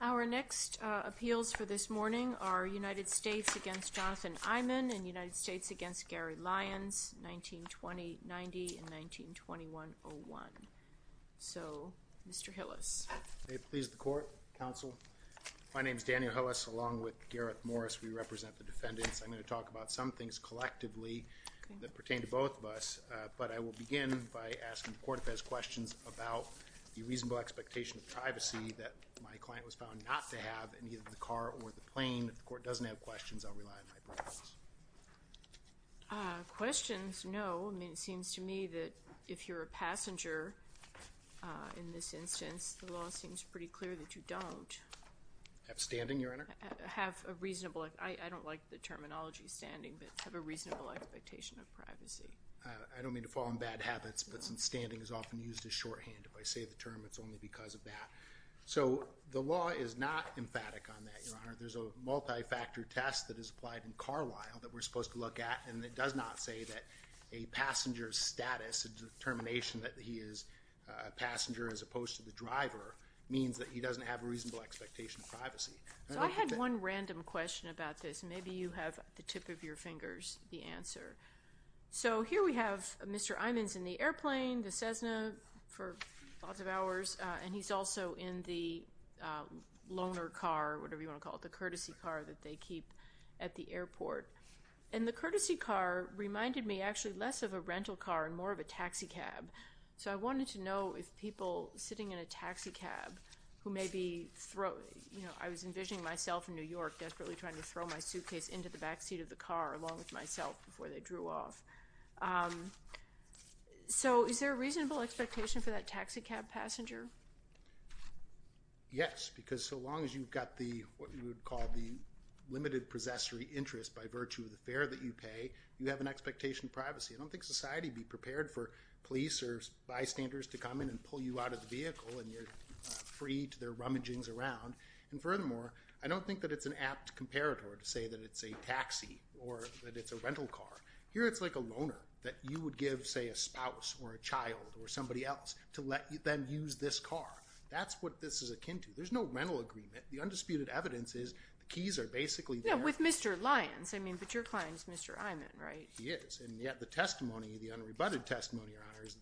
Our next appeals for this morning are United States v. Jonathan Eymann and United States v. Gary Lyons, 1990 and 1921-01. So, Mr. Hillis. May it please the Court, Counsel. My name is Daniel Hillis, along with Gareth Morris. We represent the defendants. I'm going to talk about some things collectively that pertain to both of us, but I will begin by asking the Court if it has questions about the reasonable expectation of privacy that my client was found not to have in either the car or the plane. If the Court doesn't have questions, I'll rely on my pronouns. Questions? No. I mean, it seems to me that if you're a passenger in this instance, the law seems pretty clear that you don't. Have standing, Your Honor? Have a reasonable – I don't like the terminology standing, but have a reasonable expectation of privacy. I don't mean to fall on bad habits, but standing is often used as shorthand. If I say the term, it's only because of that. So the law is not emphatic on that, Your Honor. There's a multi-factor test that is applied in Carlyle that we're supposed to look at, and it does not say that a passenger's status and determination that he is a passenger as opposed to the driver means that he doesn't have a reasonable expectation of privacy. So I had one random question about this. Maybe you have at the tip of your fingers the answer. So here we have Mr. Imons in the airplane, the Cessna for lots of hours, and he's also in the loaner car, whatever you want to call it, the courtesy car that they keep at the airport. And the courtesy car reminded me actually less of a rental car and more of a taxicab. So I wanted to know if people sitting in a taxicab who may be – I was envisioning myself in New York desperately trying to throw my suitcase into the backseat of the car along with myself before they drew off. So is there a reasonable expectation for that taxicab passenger? Yes, because so long as you've got what you would call the limited possessory interest by virtue of the fare that you pay, you have an expectation of privacy. I don't think society would be prepared for police or bystanders to come in and pull you out of the vehicle and you're free to their rummagings around. And furthermore, I don't think that it's an apt comparator to say that it's a taxi or that it's a rental car. Here it's like a loaner that you would give, say, a spouse or a child or somebody else to let them use this car. That's what this is akin to. There's no rental agreement. The undisputed evidence is the keys are basically there. Yeah, with Mr. Lyons. I mean, but your client is Mr. Imons, right? He is. And yet the testimony, the unrebutted testimony, Your Honor, is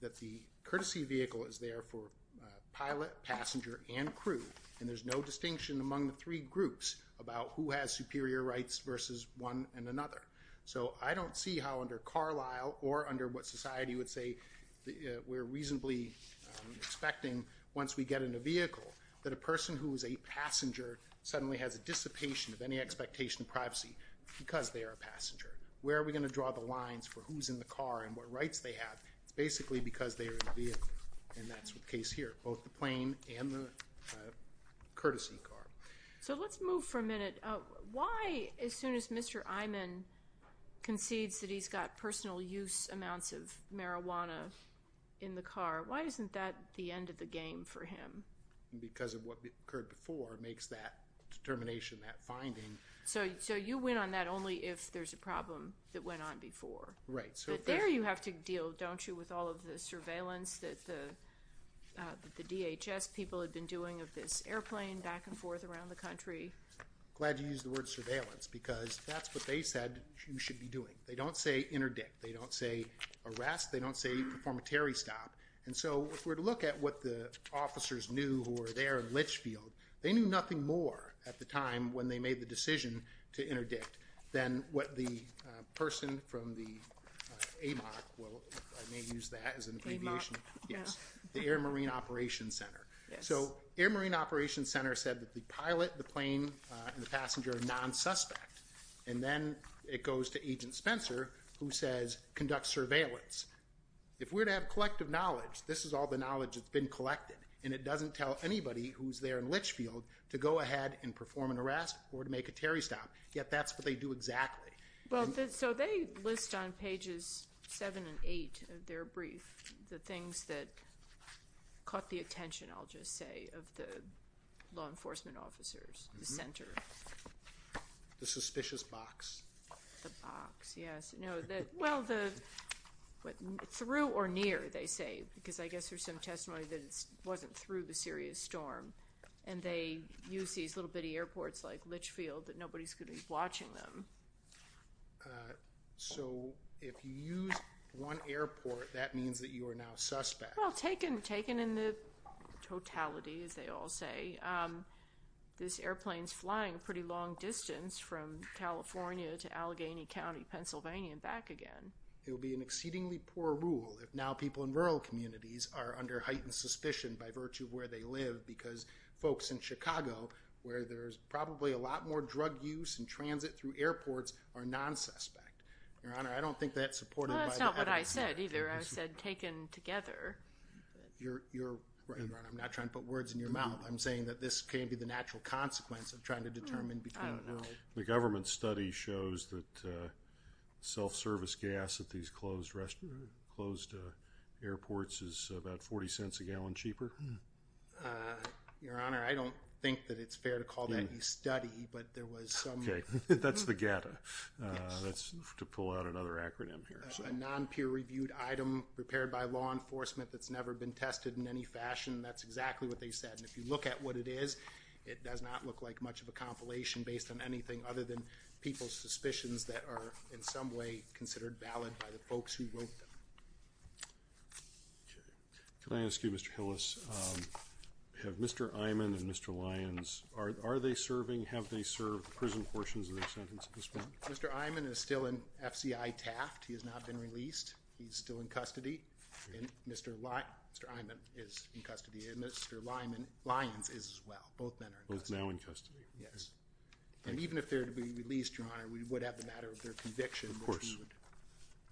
that the courtesy vehicle is there for pilot, passenger, and crew. And there's no distinction among the three groups about who has superior rights versus one and another. So I don't see how under Carlisle or under what society would say we're reasonably expecting once we get in a vehicle that a person who is a passenger suddenly has a dissipation of any expectation of privacy because they are a passenger. Where are we going to draw the lines for who's in the car and what rights they have? It's basically because they are in the vehicle, and that's the case here, both the plane and the courtesy car. So let's move for a minute. Why, as soon as Mr. Imon concedes that he's got personal use amounts of marijuana in the car, why isn't that the end of the game for him? Because of what occurred before makes that determination, that finding. So you went on that only if there's a problem that went on before. Right. But there you have to deal, don't you, with all of the surveillance that the DHS people had been doing of this airplane back and forth around the country? Glad you used the word surveillance because that's what they said you should be doing. They don't say interdict. They don't say arrest. They don't say performatory stop. And so if we were to look at what the officers knew who were there in Litchfield, they knew nothing more at the time when they made the decision to interdict than what the person from the AMOC, well, I may use that as an abbreviation. AMOC. Yes. The Air Marine Operations Center. Yes. So Air Marine Operations Center said that the pilot, the plane, and the passenger are non-suspect. And then it goes to Agent Spencer, who says conduct surveillance. If we're to have collective knowledge, this is all the knowledge that's been collected, and it doesn't tell anybody who's there in Litchfield to go ahead and perform an arrest or to make a Terry stop. Yet that's what they do exactly. Well, so they list on pages 7 and 8 of their brief the things that caught the attention, I'll just say, of the law enforcement officers, the center. The suspicious box. The box, yes. Through or near, they say, because I guess there's some testimony that it wasn't through the serious storm. And they use these little bitty airports like Litchfield that nobody's going to be watching them. So if you use one airport, that means that you are now suspect. Well, taken in the totality, as they all say. This airplane's flying a pretty long distance from California to Allegheny County, Pennsylvania, and back again. It would be an exceedingly poor rule if now people in rural communities are under heightened suspicion by virtue of where they live because folks in Chicago, where there's probably a lot more drug use and transit through airports, are non-suspect. Your Honor, I don't think that's supported by the evidence. Well, that's not what I said either. I said taken together. Your Honor, I'm not trying to put words in your mouth. I'm saying that this can be the natural consequence of trying to determine between rural. The government study shows that self-service gas at these closed airports is about 40 cents a gallon cheaper. Your Honor, I don't think that it's fair to call that a study, but there was some. Okay. That's the GATA. That's to pull out another acronym here. A non-peer-reviewed item prepared by law enforcement that's never been tested in any fashion. That's exactly what they said. And if you look at what it is, it does not look like much of a compilation based on anything other than people's suspicions that are in some way considered valid by the folks who wrote them. Okay. Can I ask you, Mr. Hillis, have Mr. Iman and Mr. Lyons, are they serving, have they served prison portions of their sentence at this point? Mr. Iman is still in FCI Taft. He has not been released. He's still in custody. And Mr. Iman is in custody. And Mr. Lyons is as well. Both men are in custody. Both now in custody. Yes. And even if they're to be released, Your Honor, we would have the matter of their conviction, which would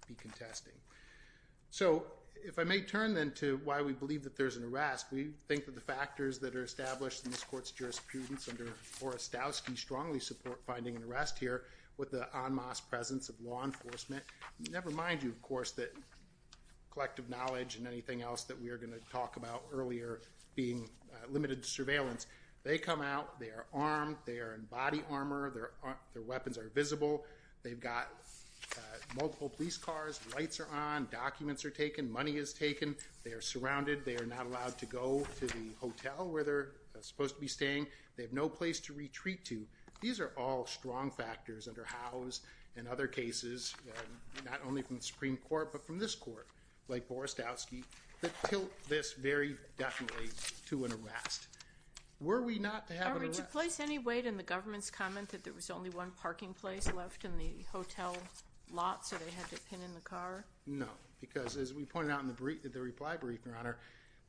be contesting. Of course. So if I may turn then to why we believe that there's an arrest, we think that the factors that are established in this court's jurisprudence under Orestowski strongly support finding an arrest here with the en masse presence of law enforcement. Never mind, of course, that collective knowledge and anything else that we are going to talk about earlier being limited surveillance. They come out. They are armed. They are in body armor. Their weapons are visible. They've got multiple police cars. Lights are on. Documents are taken. Money is taken. They are surrounded. They are not allowed to go to the hotel where they're supposed to be staying. They have no place to retreat to. These are all strong factors under Howe's and other cases, not only from the Supreme Court but from this court, like Orestowski, that tilt this very definitely to an arrest. Were we not to have an arrest? Are we to place any weight in the government's comment that there was only one parking place left in the hotel lot so they had to pin in the car? No, because as we pointed out in the reply brief, Your Honor,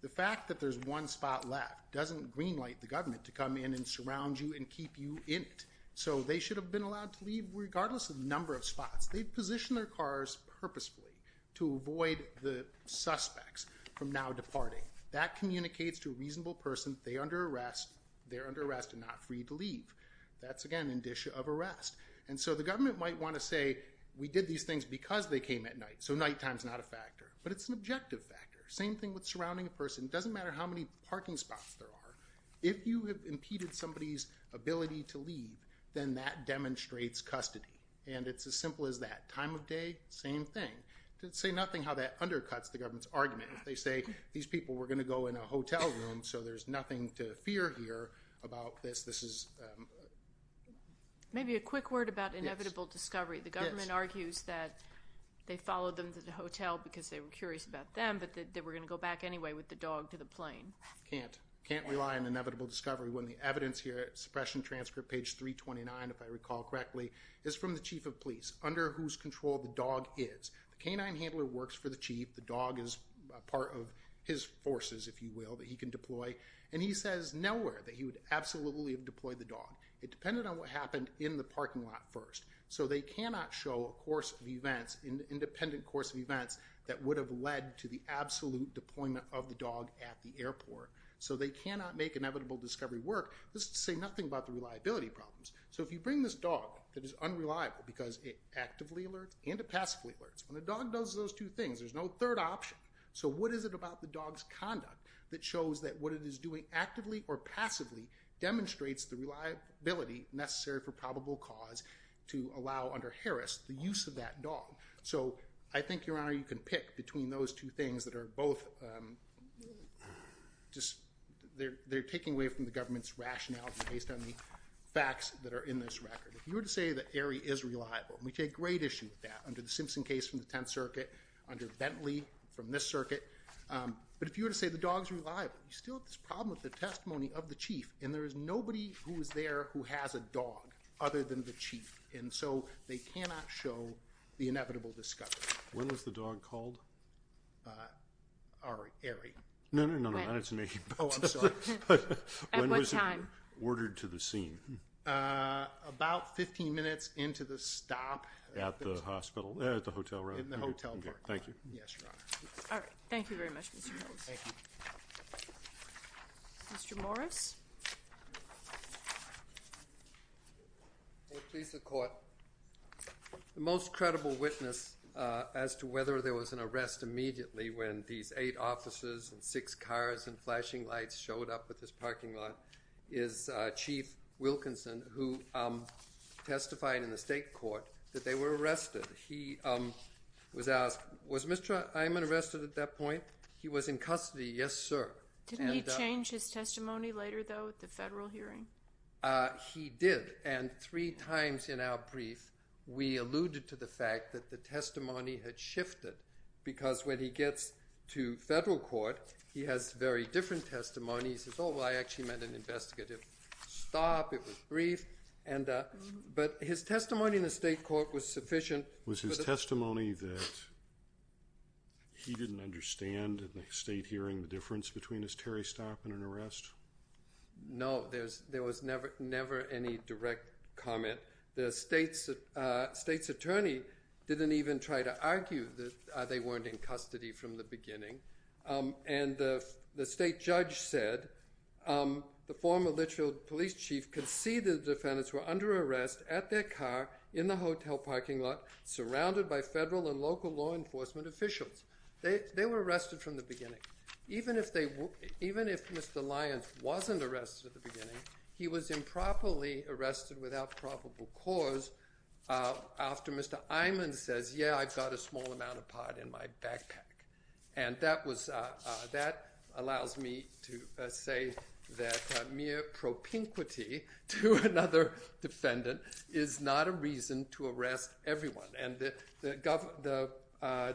the fact that there's one spot left doesn't greenlight the government to come in and surround you and keep you in. So they should have been allowed to leave regardless of the number of spots. They've positioned their cars purposefully to avoid the suspects from now departing. That communicates to a reasonable person they're under arrest and not free to leave. That's, again, an indicia of arrest. And so the government might want to say we did these things because they came at night, so nighttime's not a factor. But it's an objective factor. Same thing with surrounding a person. It doesn't matter how many parking spots there are. If you have impeded somebody's ability to leave, then that demonstrates custody. And it's as simple as that. Time of day, same thing. To say nothing how that undercuts the government's argument. If they say these people were going to go in a hotel room, so there's nothing to fear here about this. Maybe a quick word about inevitable discovery. The government argues that they followed them to the hotel because they were curious about them, but that they were going to go back anyway with the dog to the plane. Can't. Can't rely on inevitable discovery when the evidence here at suppression transcript page 329, if I recall correctly, is from the chief of police, under whose control the dog is. The canine handler works for the chief. The dog is a part of his forces, if you will, that he can deploy. And he says nowhere that he would absolutely have deployed the dog. It depended on what happened in the parking lot first. So they cannot show a course of events, an independent course of events, that would have led to the absolute deployment of the dog at the airport. So they cannot make inevitable discovery work. This is to say nothing about the reliability problems. So if you bring this dog that is unreliable because it actively alerts and it passively alerts. When a dog does those two things, there's no third option. So what is it about the dog's conduct that shows that what it is doing actively or passively demonstrates the reliability necessary for probable cause to allow under Harris the use of that dog? So I think, Your Honor, you can pick between those two things that are both just they're taking away from the government's rationale based on the facts that are in this record. If you were to say that Aerie is reliable, and we take great issue with that under the Simpson case from the Tenth Circuit, under Bentley from this circuit. But if you were to say the dog's reliable, you still have this problem with the testimony of the chief. And there is nobody who is there who has a dog other than the chief. And so they cannot show the inevitable discovery. When was the dog called? Aerie. No, no, no, no. That's me. Oh, I'm sorry. At what time? When was it ordered to the scene? About 15 minutes into the stop. At the hospital? At the hotel, right? In the hotel parking lot. Thank you. Yes, Your Honor. All right. Thank you very much, Mr. Coates. Thank you. Mr. Morris? May it please the Court, the most credible witness as to whether there was an arrest immediately when these eight officers and six cars and flashing lights showed up at this parking lot is Chief Wilkinson, who testified in the state court that they were arrested. He was asked, was Mr. Eyman arrested at that point? He was in custody, yes, sir. Didn't he change his testimony later, though, at the federal hearing? He did. And three times in our brief, we alluded to the fact that the testimony had shifted, because when he gets to federal court, he has very different testimonies. He says, oh, well, I actually meant an investigative stop. It was brief. But his testimony in the state court was sufficient. Was his testimony that he didn't understand at the state hearing the difference between a Terry stop and an arrest? No. There was never any direct comment. The state's attorney didn't even try to argue that they weren't in custody from the beginning. And the state judge said the former Litchfield police chief conceded the defendants were under arrest at their car in the hotel parking lot, surrounded by federal and local law enforcement officials. They were arrested from the beginning. Even if Mr. Lyons wasn't arrested at the beginning, he was improperly arrested without probable cause after Mr. Eyman says, yeah, I've got a small amount of pot in my backpack. And that allows me to say that mere propinquity to another defendant is not a reason to arrest everyone. And the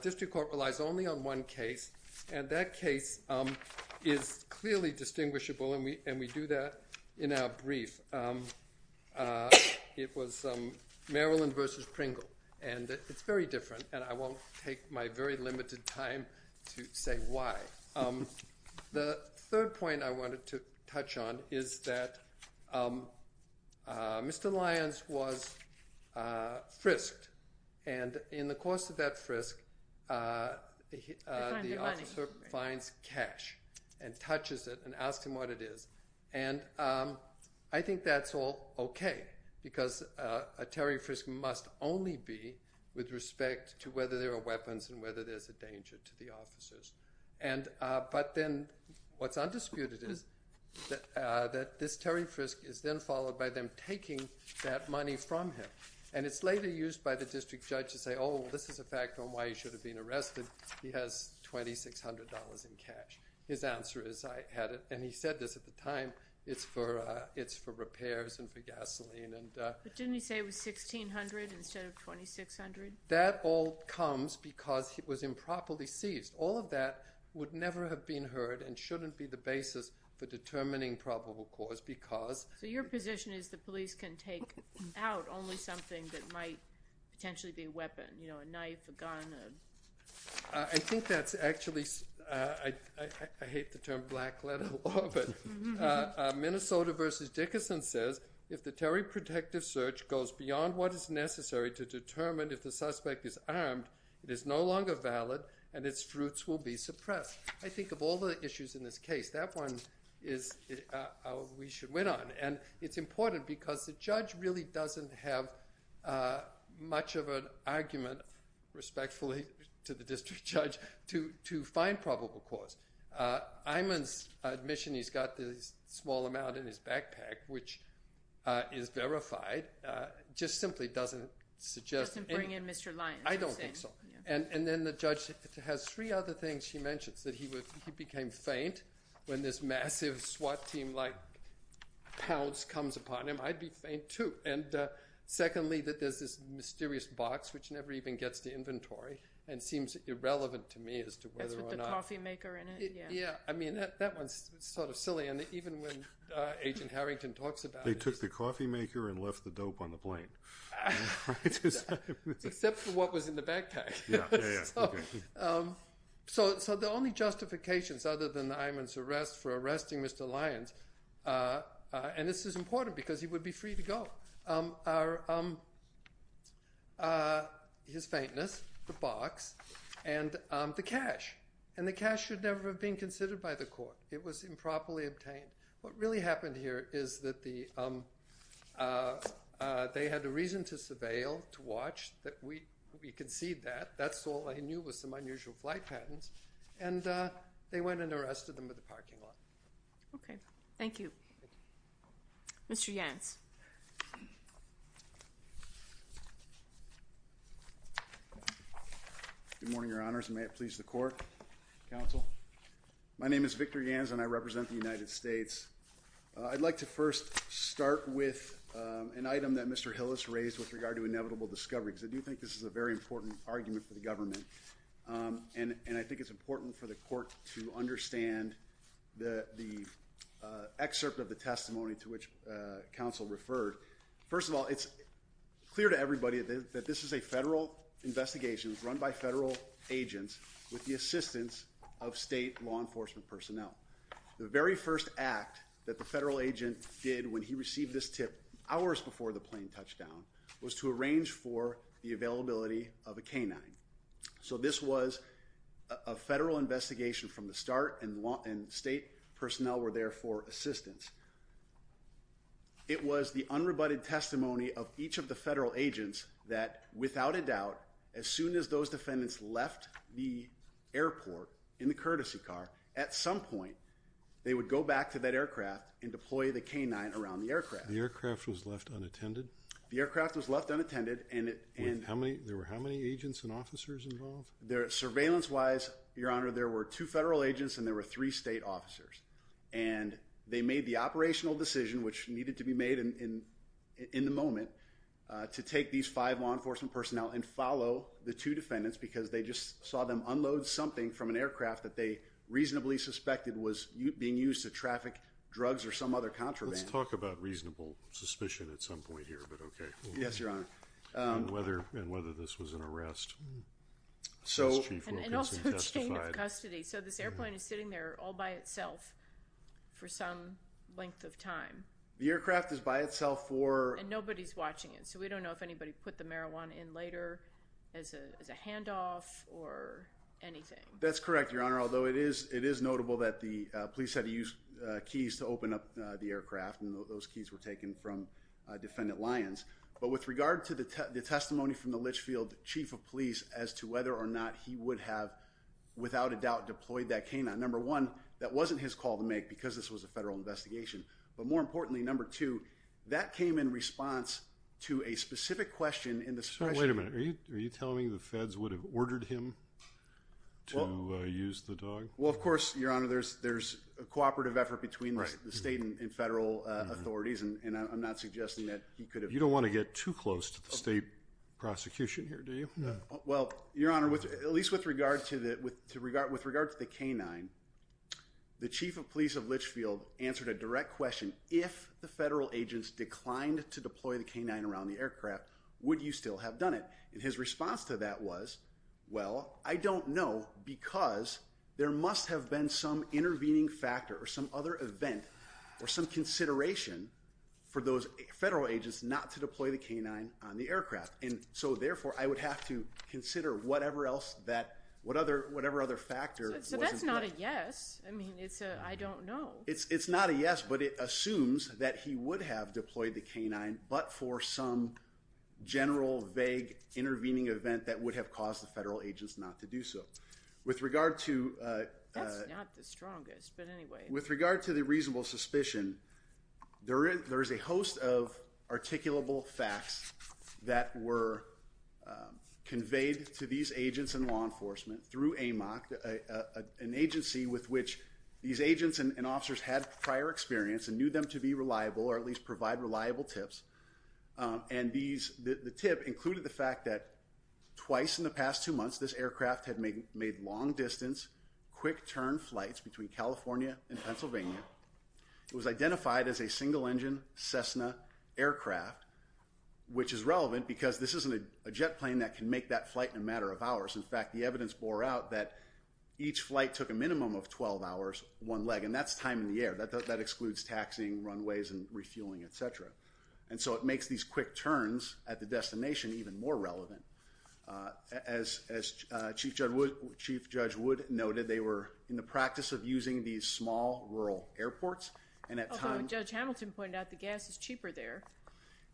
district court relies only on one case. And that case is clearly distinguishable. And we do that in our brief. It was Maryland versus Pringle. And it's very different. And I won't take my very limited time to say why. The third point I wanted to touch on is that Mr. Lyons was frisked. And in the course of that frisk, the officer finds cash and touches it and asks him what it is. And I think that's all okay because a Terry frisk must only be with respect to whether there are weapons and whether there's a danger to the officers. But then what's undisputed is that this Terry frisk is then followed by them taking that money from him. And it's later used by the district judge to say, oh, this is a fact on why he should have been arrested. He has $2,600 in cash. His answer is, I had it. And he said this at the time, it's for repairs and for gasoline. But didn't he say it was $1,600 instead of $2,600? That all comes because it was improperly seized. All of that would never have been heard and shouldn't be the basis for determining probable cause because ‑‑ So your position is the police can take out only something that might potentially be a weapon, you know, a knife, a gun? I think that's actually ‑‑ I hate the term black letter law, but Minnesota v. Dickerson says, if the Terry protective search goes beyond what is necessary to determine if the suspect is armed, it is no longer valid and its fruits will be suppressed. I think of all the issues in this case, that one is how we should win on. And it's important because the judge really doesn't have much of an argument, respectfully to the district judge, to find probable cause. Iman's admission he's got the small amount in his backpack, which is verified, just simply doesn't suggest ‑‑ Doesn't bring in Mr. Lyons. I don't think so. And then the judge has three other things she mentions, that he became faint when this massive SWAT team like pounce comes upon him. I'd be faint, too. And secondly, that there's this mysterious box which never even gets to inventory and seems irrelevant to me as to whether or not ‑‑ That's with the coffee maker in it, yeah. Yeah, I mean, that one's sort of silly. And even when Agent Harrington talks about it. They took the coffee maker and left the dope on the plane. Except for what was in the backpack. So the only justifications other than Iman's arrest for arresting Mr. Lyons, and this is important because he would be free to go, are his faintness, the box, and the cash. And the cash should never have been considered by the court. It was improperly obtained. What really happened here is that they had a reason to surveil, to watch, that we concede that. That's all I knew was some unusual flight patterns. And they went and arrested him at the parking lot. Thank you. Thank you. Mr. Yans. Good morning, Your Honors, and may it please the court, counsel. My name is Victor Yans, and I represent the United States. I'd like to first start with an item that Mr. Hill has raised with regard to inevitable discovery. Because I do think this is a very important argument for the government. And I think it's important for the court to understand the excerpt of the testimony to which counsel referred. First of all, it's clear to everybody that this is a federal investigation run by federal agents with the assistance of state law enforcement personnel. The very first act that the federal agent did when he received this tip hours before the plane touched down was to arrange for the availability of a canine. So this was a federal investigation from the start, and state personnel were there for assistance. It was the unrebutted testimony of each of the federal agents that, without a doubt, as soon as those defendants left the airport in the courtesy car, at some point they would go back to that aircraft and deploy the canine around the aircraft. The aircraft was left unattended? The aircraft was left unattended. There were how many agents and officers involved? Surveillance-wise, Your Honor, there were two federal agents and there were three state officers. And they made the operational decision, which needed to be made in the moment, to take these five law enforcement personnel and follow the two defendants because they just saw them unload something from an aircraft that they reasonably suspected was being used to traffic drugs or some other contraband. Let's talk about reasonable suspicion at some point here, but okay. Yes, Your Honor. And whether this was an arrest. And also chain of custody. So this airplane is sitting there all by itself for some length of time. The aircraft is by itself for— And nobody's watching it, so we don't know if anybody put the marijuana in later as a handoff or anything. That's correct, Your Honor, although it is notable that the police had to use keys to open up the aircraft, and those keys were taken from defendant Lyons. But with regard to the testimony from the Litchfield chief of police as to whether or not he would have, without a doubt, deployed that canine, number one, that wasn't his call to make because this was a federal investigation. But more importantly, number two, that came in response to a specific question in the special— So wait a minute. Are you telling me the feds would have ordered him to use the dog? Well, of course, Your Honor, there's a cooperative effort between the state and federal authorities, and I'm not suggesting that he could have— You don't want to get too close to the state prosecution here, do you? Well, Your Honor, at least with regard to the canine, the chief of police of Litchfield answered a direct question, if the federal agents declined to deploy the canine around the aircraft, would you still have done it? And his response to that was, well, I don't know because there must have been some intervening factor or some other event or some consideration for those federal agents not to deploy the canine on the aircraft. And so, therefore, I would have to consider whatever other factor was in play. So that's not a yes. I mean, it's a I don't know. It's not a yes, but it assumes that he would have deployed the canine, but for some general vague intervening event that would have caused the federal agents not to do so. With regard to— That's not the strongest, but anyway. With regard to the reasonable suspicion, there is a host of articulable facts that were conveyed to these agents and law enforcement through AMOC, an agency with which these agents and officers had prior experience and knew them to be reliable or at least provide reliable tips. And the tip included the fact that twice in the past two months, this aircraft had made long-distance, quick-turn flights between California and Pennsylvania. It was identified as a single-engine Cessna aircraft, which is relevant because this isn't a jet plane that can make that flight in a matter of hours. In fact, the evidence bore out that each flight took a minimum of 12 hours, one leg. And that's time in the air. That excludes taxiing, runways, and refueling, et cetera. And so it makes these quick turns at the destination even more relevant. As Chief Judge Wood noted, they were in the practice of using these small, rural airports. And at times— Although Judge Hamilton pointed out the gas is cheaper there.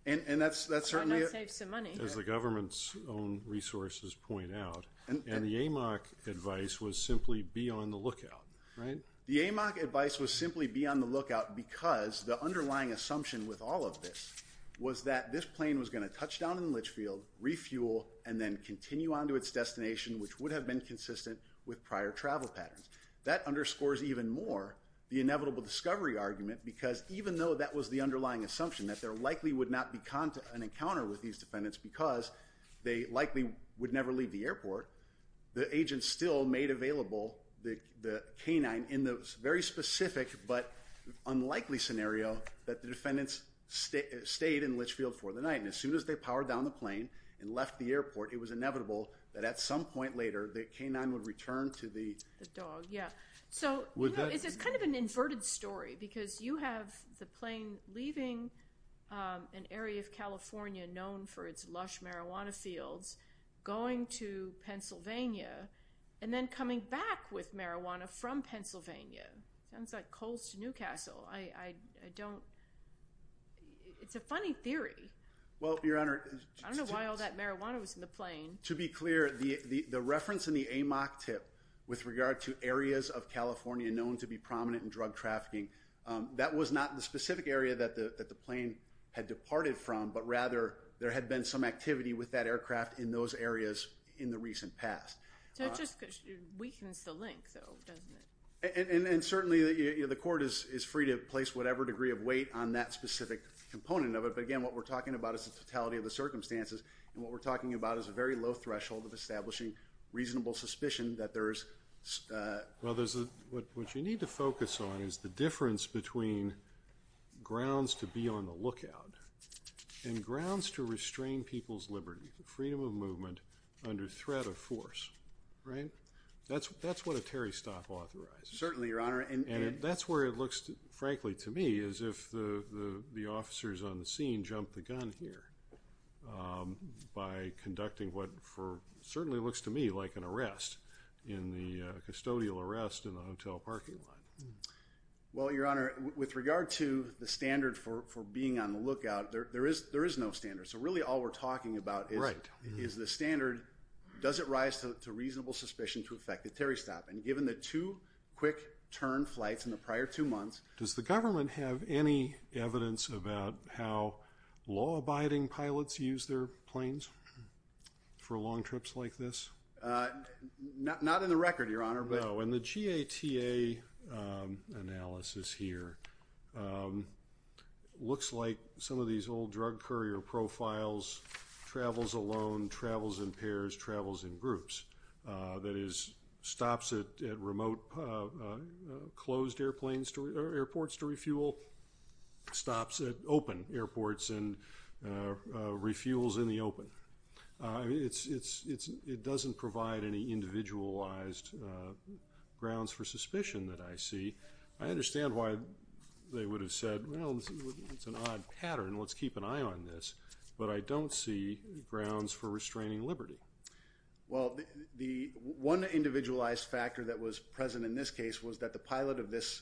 And that's certainly— Why not save some money? As the government's own resources point out. And the AMOC advice was simply be on the lookout, right? The AMOC advice was simply be on the lookout because the underlying assumption with all of this was that this plane was going to touch down in Litchfield, refuel, and then continue on to its destination, which would have been consistent with prior travel patterns. That underscores even more the inevitable discovery argument because even though that was the underlying assumption, that there likely would not be an encounter with these defendants because they likely would never leave the airport, the agents still made available the canine in the very specific but unlikely scenario that the defendants stayed in Litchfield for the night. And as soon as they powered down the plane and left the airport, it was inevitable that at some point later the canine would return to the— The dog, yeah. So it's kind of an inverted story because you have the plane leaving an area of California known for its lush marijuana fields, going to Pennsylvania, and then coming back with marijuana from Pennsylvania. Sounds like Coles to Newcastle. I don't—It's a funny theory. Well, Your Honor— I don't know why all that marijuana was in the plane. To be clear, the reference in the AMOC tip with regard to areas of California known to be prominent in drug trafficking, that was not in the specific area that the plane had departed from but rather there had been some activity with that aircraft in those areas in the recent past. So it just weakens the link, though, doesn't it? And certainly the court is free to place whatever degree of weight on that specific component of it. But again, what we're talking about is the totality of the circumstances, and what we're talking about is a very low threshold of establishing reasonable suspicion that there is— Well, what you need to focus on is the difference between grounds to be on the lookout and grounds to restrain people's liberty, freedom of movement under threat of force, right? That's what a Terry stop authorizes. Certainly, Your Honor. And that's where it looks, frankly, to me as if the officers on the scene jumped the gun here by conducting what certainly looks to me like an arrest, a custodial arrest in a hotel parking lot. Well, Your Honor, with regard to the standard for being on the lookout, there is no standard. So really all we're talking about is the standard, does it rise to reasonable suspicion to effect a Terry stop? And given the two quick turn flights in the prior two months— Does the government have any evidence about how law-abiding pilots use their planes for long trips like this? Not in the record, Your Honor, but— No, and the GATA analysis here looks like some of these old drug courier profiles, travels alone, travels in pairs, travels in groups. That is, stops at remote closed airports to refuel, stops at open airports and refuels in the open. It doesn't provide any individualized grounds for suspicion that I see. I understand why they would have said, well, it's an odd pattern, let's keep an eye on this. But I don't see grounds for restraining liberty. Well, the one individualized factor that was present in this case was that the pilot of this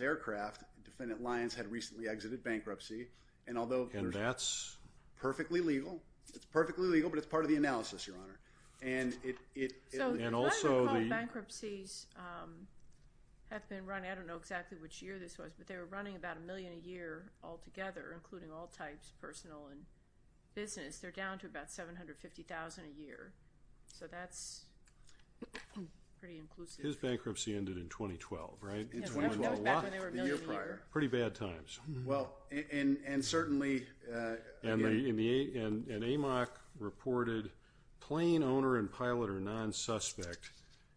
aircraft, Defendant Lyons, had recently exited bankruptcy. And although— And that's— Perfectly legal. It's perfectly legal, but it's part of the analysis, Your Honor. And it— And also the— So the so-called bankruptcies have been running, I don't know exactly which year this was, but they were running about a million a year altogether, including all types, personal and business. They're down to about $750,000 a year. So that's pretty inclusive. His bankruptcy ended in 2012, right? In 2012. Back when they were a million a year. Pretty bad times. Well, and certainly— And AMOC reported plane owner and pilot are non-suspect.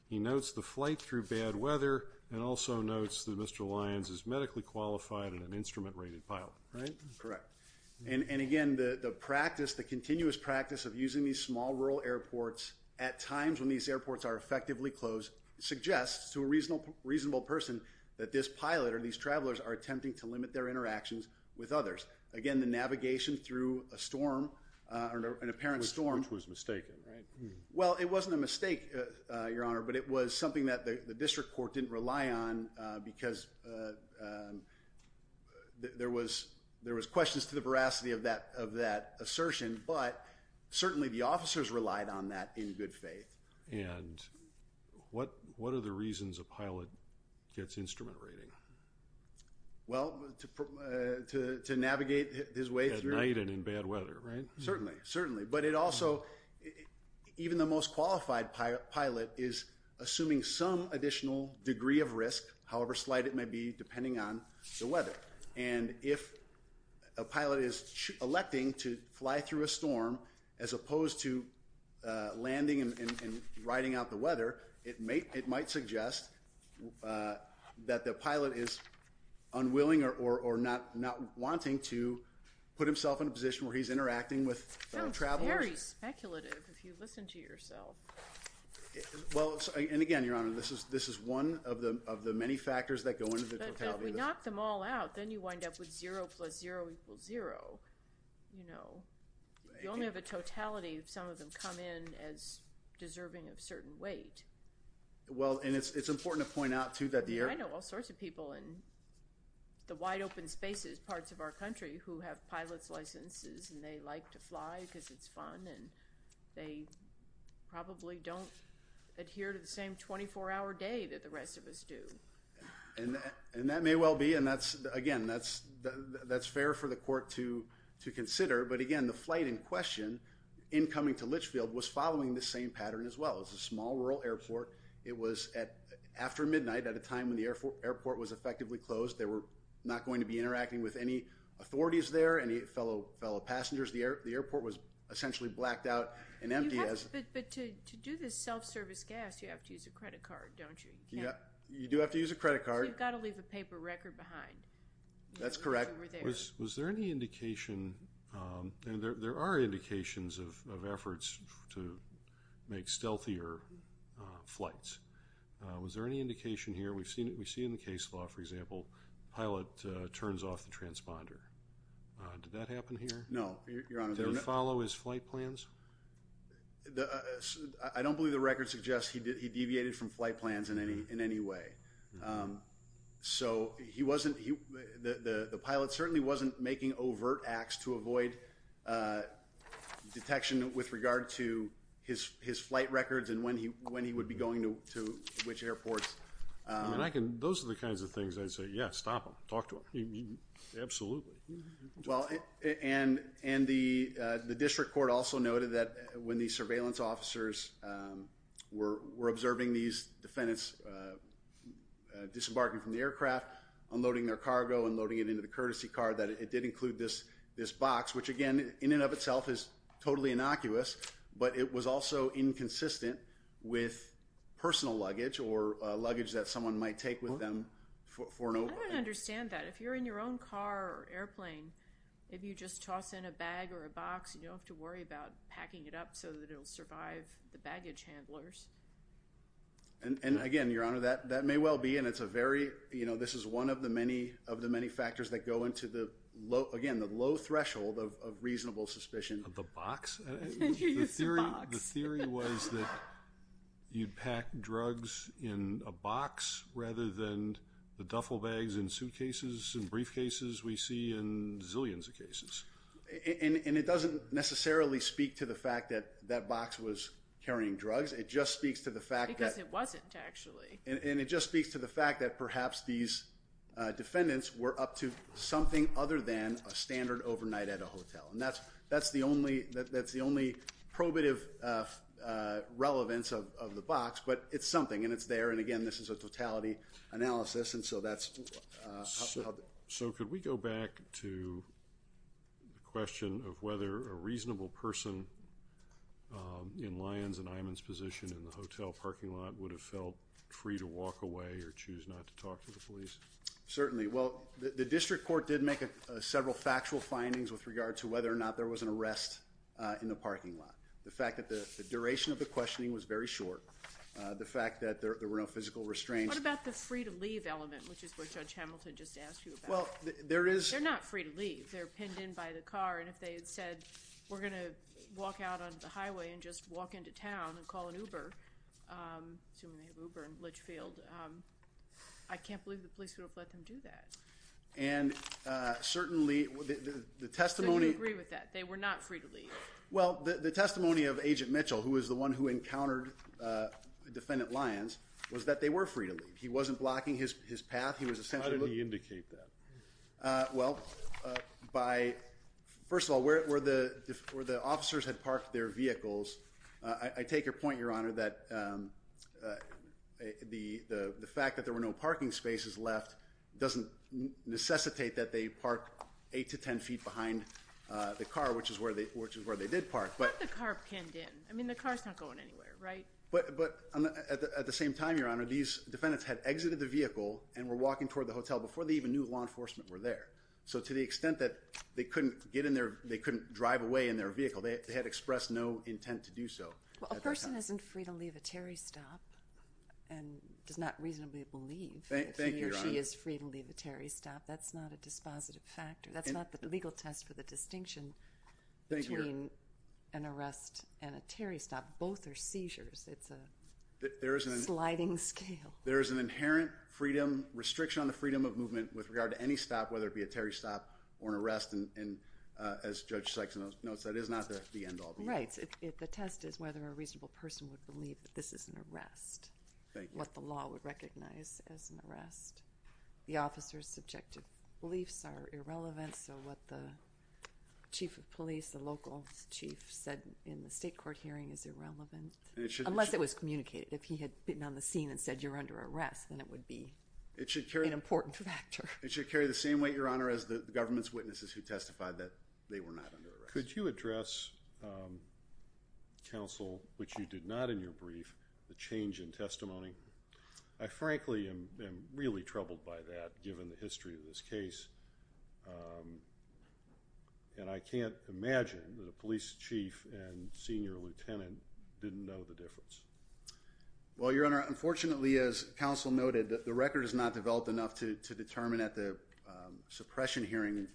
He notes the flight through bad weather and also notes that Mr. Lyons is medically qualified and an instrument-rated pilot, right? Correct. And again, the practice, the continuous practice of using these small rural airports at times when these airports are effectively closed suggests to a reasonable person that this pilot or these travelers are attempting to limit their interactions with others. Again, the navigation through a storm, an apparent storm— Which was mistaken, right? Well, it wasn't a mistake, Your Honor, but it was something that the district court didn't rely on because there was questions to the veracity of that assertion, but certainly the officers relied on that in good faith. And what are the reasons a pilot gets instrument rating? Well, to navigate his way through— At night and in bad weather, right? Certainly, certainly. But it also—even the most qualified pilot is assuming some additional degree of risk, however slight it may be, depending on the weather. And if a pilot is electing to fly through a storm as opposed to landing and riding out the weather, it might suggest that the pilot is unwilling or not wanting to put himself in a position where he's interacting with travelers. That's very speculative if you listen to yourself. Well, and again, Your Honor, this is one of the many factors that go into the totality of the— But if we knock them all out, then you wind up with zero plus zero equals zero, you know. You only have a totality if some of them come in as deserving of certain weight. Well, and it's important to point out, too, that the air— I know all sorts of people in the wide-open spaces, parts of our country, who have pilot's licenses, and they like to fly because it's fun, and they probably don't adhere to the same 24-hour day that the rest of us do. And that may well be, and again, that's fair for the court to consider. But again, the flight in question, incoming to Litchfield, was following the same pattern as well. It was a small rural airport. It was after midnight at a time when the airport was effectively closed. They were not going to be interacting with any authorities there, any fellow passengers. The airport was essentially blacked out and empty as— But to do this self-service gas, you have to use a credit card, don't you? You do have to use a credit card. So you've got to leave a paper record behind. That's correct. Was there any indication—and there are indications of efforts to make stealthier flights. Was there any indication here—we see in the case law, for example, pilot turns off the transponder. Did that happen here? No, Your Honor. Did he follow his flight plans? I don't believe the record suggests he deviated from flight plans in any way. So he wasn't—the pilot certainly wasn't making overt acts to avoid detection with regard to his flight records and when he would be going to which airports. Those are the kinds of things I'd say, yeah, stop him. Talk to him. Absolutely. And the district court also noted that when the surveillance officers were observing these defendants disembarking from the aircraft, unloading their cargo and loading it into the courtesy car, that it did include this box, which, again, in and of itself is totally innocuous, but it was also inconsistent with personal luggage or luggage that someone might take with them for an— I don't understand that. If you're in your own car or airplane, if you just toss in a bag or a box, you don't have to worry about packing it up so that it'll survive the baggage handlers. And, again, Your Honor, that may well be, and it's a very—this is one of the many factors that go into the low— again, the low threshold of reasonable suspicion. Of the box? The theory was that you'd pack drugs in a box rather than the duffel bags in suitcases and briefcases we see in zillions of cases. And it doesn't necessarily speak to the fact that that box was carrying drugs. It just speaks to the fact that— Because it wasn't, actually. And it just speaks to the fact that perhaps these defendants were up to something other than a standard overnight at a hotel. And that's the only probative relevance of the box, but it's something, and it's there. And, again, this is a totality analysis, and so that's how— So could we go back to the question of whether a reasonable person in Lyons and Imon's position in the hotel parking lot would have felt free to walk away or choose not to talk to the police? Certainly. Well, the district court did make several factual findings with regard to whether or not there was an arrest in the parking lot. The fact that the duration of the questioning was very short. The fact that there were no physical restraints. What about the free-to-leave element, which is what Judge Hamilton just asked you about? Well, there is— They're not free to leave. They're pinned in by the car, and if they had said, we're going to walk out onto the highway and just walk into town and call an Uber, assuming they have Uber in Litchfield, I can't believe the police would have let them do that. So you agree with that. They were not free to leave. Well, the testimony of Agent Mitchell, who was the one who encountered Defendant Lyons, was that they were free to leave. He wasn't blocking his path. How did he indicate that? Well, first of all, where the officers had parked their vehicles, I take your point, Your Honor, that the fact that there were no parking spaces left doesn't necessitate that they park 8 to 10 feet behind the car, which is where they did park. But the car pinned in. I mean, the car's not going anywhere, right? But at the same time, Your Honor, these defendants had exited the vehicle and were walking toward the hotel before they even knew law enforcement were there. So to the extent that they couldn't drive away in their vehicle, they had expressed no intent to do so. Well, a person isn't free to leave a Terry stop and does not reasonably believe that he or she is free to leave a Terry stop. That's not a dispositive factor. That's not the legal test for the distinction between an arrest and a Terry stop. Both are seizures. It's a sliding scale. There is an inherent restriction on the freedom of movement with regard to any stop, whether it be a Terry stop or an arrest. And as Judge Sykes notes, that is not the end all be all. Right. The test is whether a reasonable person would believe that this is an arrest, what the law would recognize as an arrest. The officer's subjective beliefs are irrelevant, so what the chief of police, the local chief, said in the state court hearing is irrelevant. Unless it was communicated. If he had been on the scene and said you're under arrest, then it would be an important factor. It should carry the same weight, Your Honor, as the government's witnesses who testified that they were not under arrest. Could you address, counsel, which you did not in your brief, the change in testimony? I frankly am really troubled by that, given the history of this case. And I can't imagine that a police chief and senior lieutenant didn't know the difference. Well, Your Honor, unfortunately, as counsel noted, the record is not developed enough to determine at the suppression hearing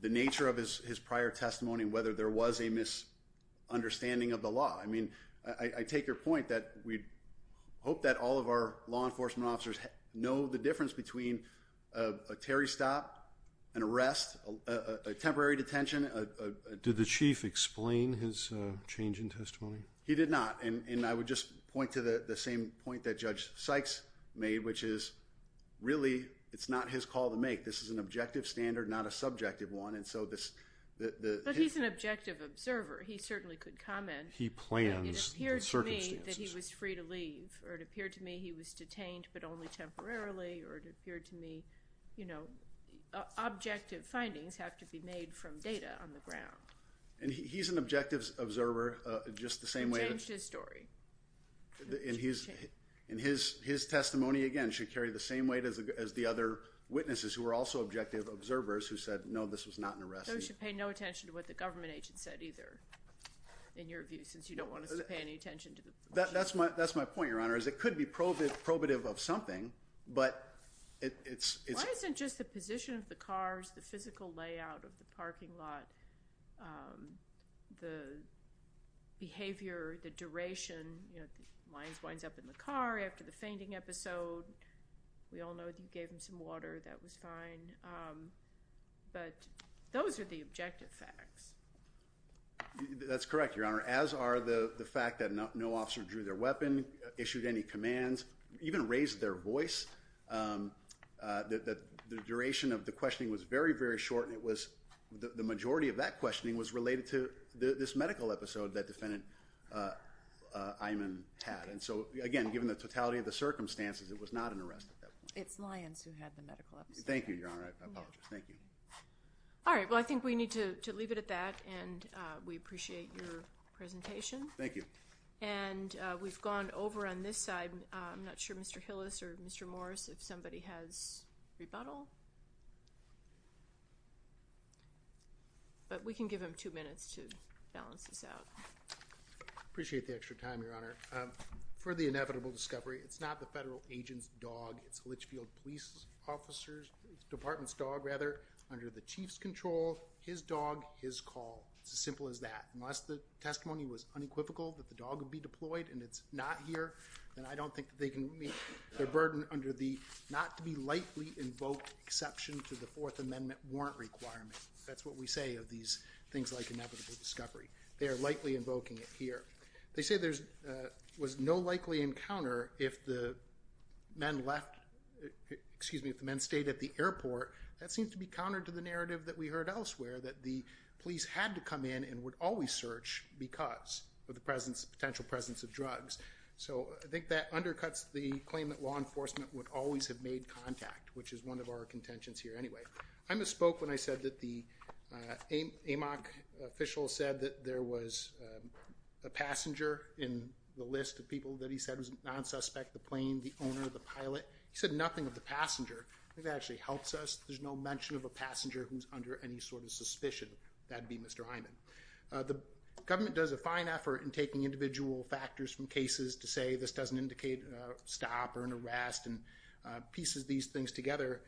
the nature of his prior testimony and whether there was a misunderstanding of the law. I mean, I take your point that we hope that all of our law enforcement officers know the difference between a Terry stop, an arrest, a temporary detention. Did the chief explain his change in testimony? He did not. And I would just point to the same point that Judge Sykes made, which is really it's not his call to make. This is an objective standard, not a subjective one. But he's an objective observer. He certainly could comment. He plans the circumstances. It appeared to me that he was free to leave, or it appeared to me he was detained but only temporarily, or it appeared to me, you know, objective findings have to be made from data on the ground. And he's an objective observer just the same way. He changed his story. And his testimony, again, should carry the same weight as the other witnesses So you should pay no attention to what the government agent said either, in your view, since you don't want us to pay any attention to the police. That's my point, Your Honor, is it could be probative of something, but it's Why isn't just the position of the cars, the physical layout of the parking lot, the behavior, the duration, you know, the lines winds up in the car after the fainting episode. We all know that you gave him some water. That was fine. But those are the objective facts. That's correct, Your Honor. As are the fact that no officer drew their weapon, issued any commands, even raised their voice. The duration of the questioning was very, very short. And it was the majority of that questioning was related to this medical episode that defendant Iman had. And so, again, given the totality of the circumstances, it was not an arrest at that point. It's Lyons who had the medical episode. Thank you, Your Honor. I apologize. Thank you. All right. Well, I think we need to leave it at that, and we appreciate your presentation. Thank you. And we've gone over on this side. I'm not sure, Mr. Hillis or Mr. Morris, if somebody has rebuttal. But we can give them two minutes to balance this out. Appreciate the extra time, Your Honor. For the inevitable discovery, it's not the federal agent's dog. It's a Litchfield police officer's department's dog, rather, under the chief's control, his dog, his call. It's as simple as that. Unless the testimony was unequivocal that the dog would be deployed and it's not here, then I don't think that they can meet their burden under the not-to-be-lightly-invoked exception to the Fourth Amendment warrant requirement. That's what we say of these things like inevitable discovery. They are lightly invoking it here. They say there was no likely encounter if the men stayed at the airport. That seems to be counter to the narrative that we heard elsewhere that the police had to come in and would always search because of the potential presence of drugs. So I think that undercuts the claim that law enforcement would always have made contact, which is one of our contentions here anyway. I misspoke when I said that the AMOC official said that there was a passenger in the list of people that he said was non-suspect, the plane, the owner, the pilot. He said nothing of the passenger. I think that actually helps us. There's no mention of a passenger who's under any sort of suspicion. That would be Mr. Hyman. The government does a fine effort in taking individual factors from cases to say this doesn't indicate a stop or an arrest and pieces these things together.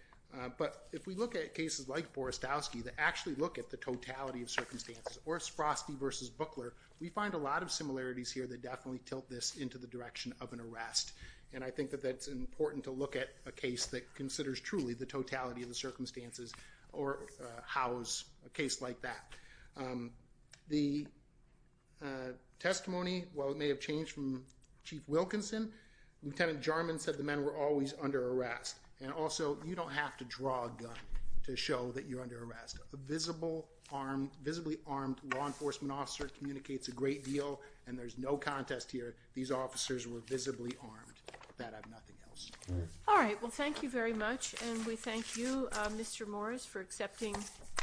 But if we look at cases like Borastowski that actually look at the totality of circumstances or Sprosty versus Bookler, we find a lot of similarities here that definitely tilt this into the direction of an arrest. And I think that that's important to look at a case that considers truly the totality of the circumstances or how is a case like that. The testimony, while it may have changed from Chief Wilkinson, Lieutenant Jarman said the men were always under arrest. And also, you don't have to draw a gun to show that you're under arrest. A visibly armed law enforcement officer communicates a great deal, and there's no contest here. These officers were visibly armed. That and nothing else. All right. Well, thank you very much. And we thank you, Mr. Morris, for accepting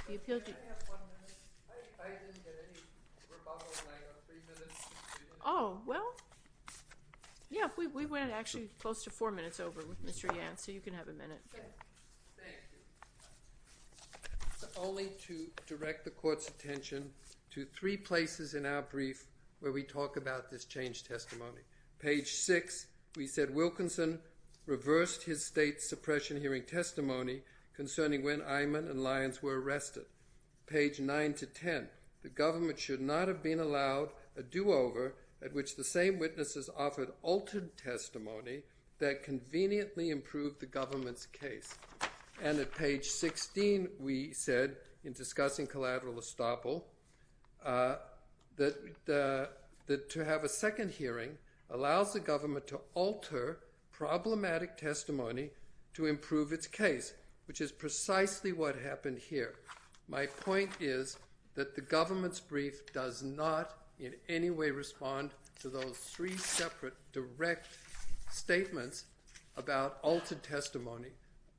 the appeal. Can I have one minute? I didn't get any rebuttal in like three minutes. Oh, well, yeah, we went actually close to four minutes over with Mr. Yan. So you can have a minute. Thank you. Only to direct the Court's attention to three places in our brief where we talk about this changed testimony. Page 6, we said, Wilkinson reversed his state suppression hearing testimony concerning when Eyman and Lyons were arrested. Page 9 to 10, the government should not have been allowed a do-over at which the same witnesses offered altered testimony that conveniently improved the government's case. And at page 16, we said, in discussing collateral estoppel, that to have a second hearing allows the government to alter problematic testimony to improve its case, which is precisely what happened here. My point is that the government's brief does not in any way respond to those three separate direct statements about altered testimony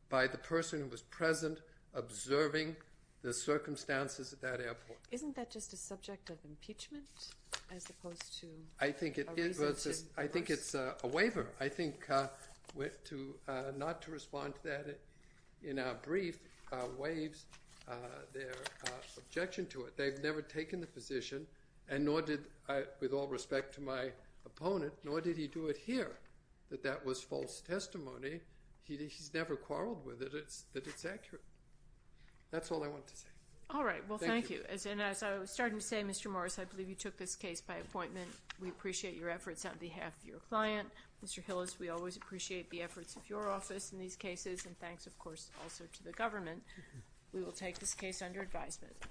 by the person who was present observing the circumstances at that airport. Isn't that just a subject of impeachment as opposed to a reason to reverse? I think it's a waiver. I think not to respond to that in our brief waives their objection to it. They've never taken the position, and nor did I, with all respect to my opponent, nor did he do it here, that that was false testimony. He's never quarreled with it, that it's accurate. That's all I want to say. All right, well, thank you. And as I was starting to say, Mr. Morris, I believe you took this case by appointment. We appreciate your efforts on behalf of your client. Mr. Hillis, we always appreciate the efforts of your office in these cases, and thanks, of course, also to the government. We will take this case under advisement.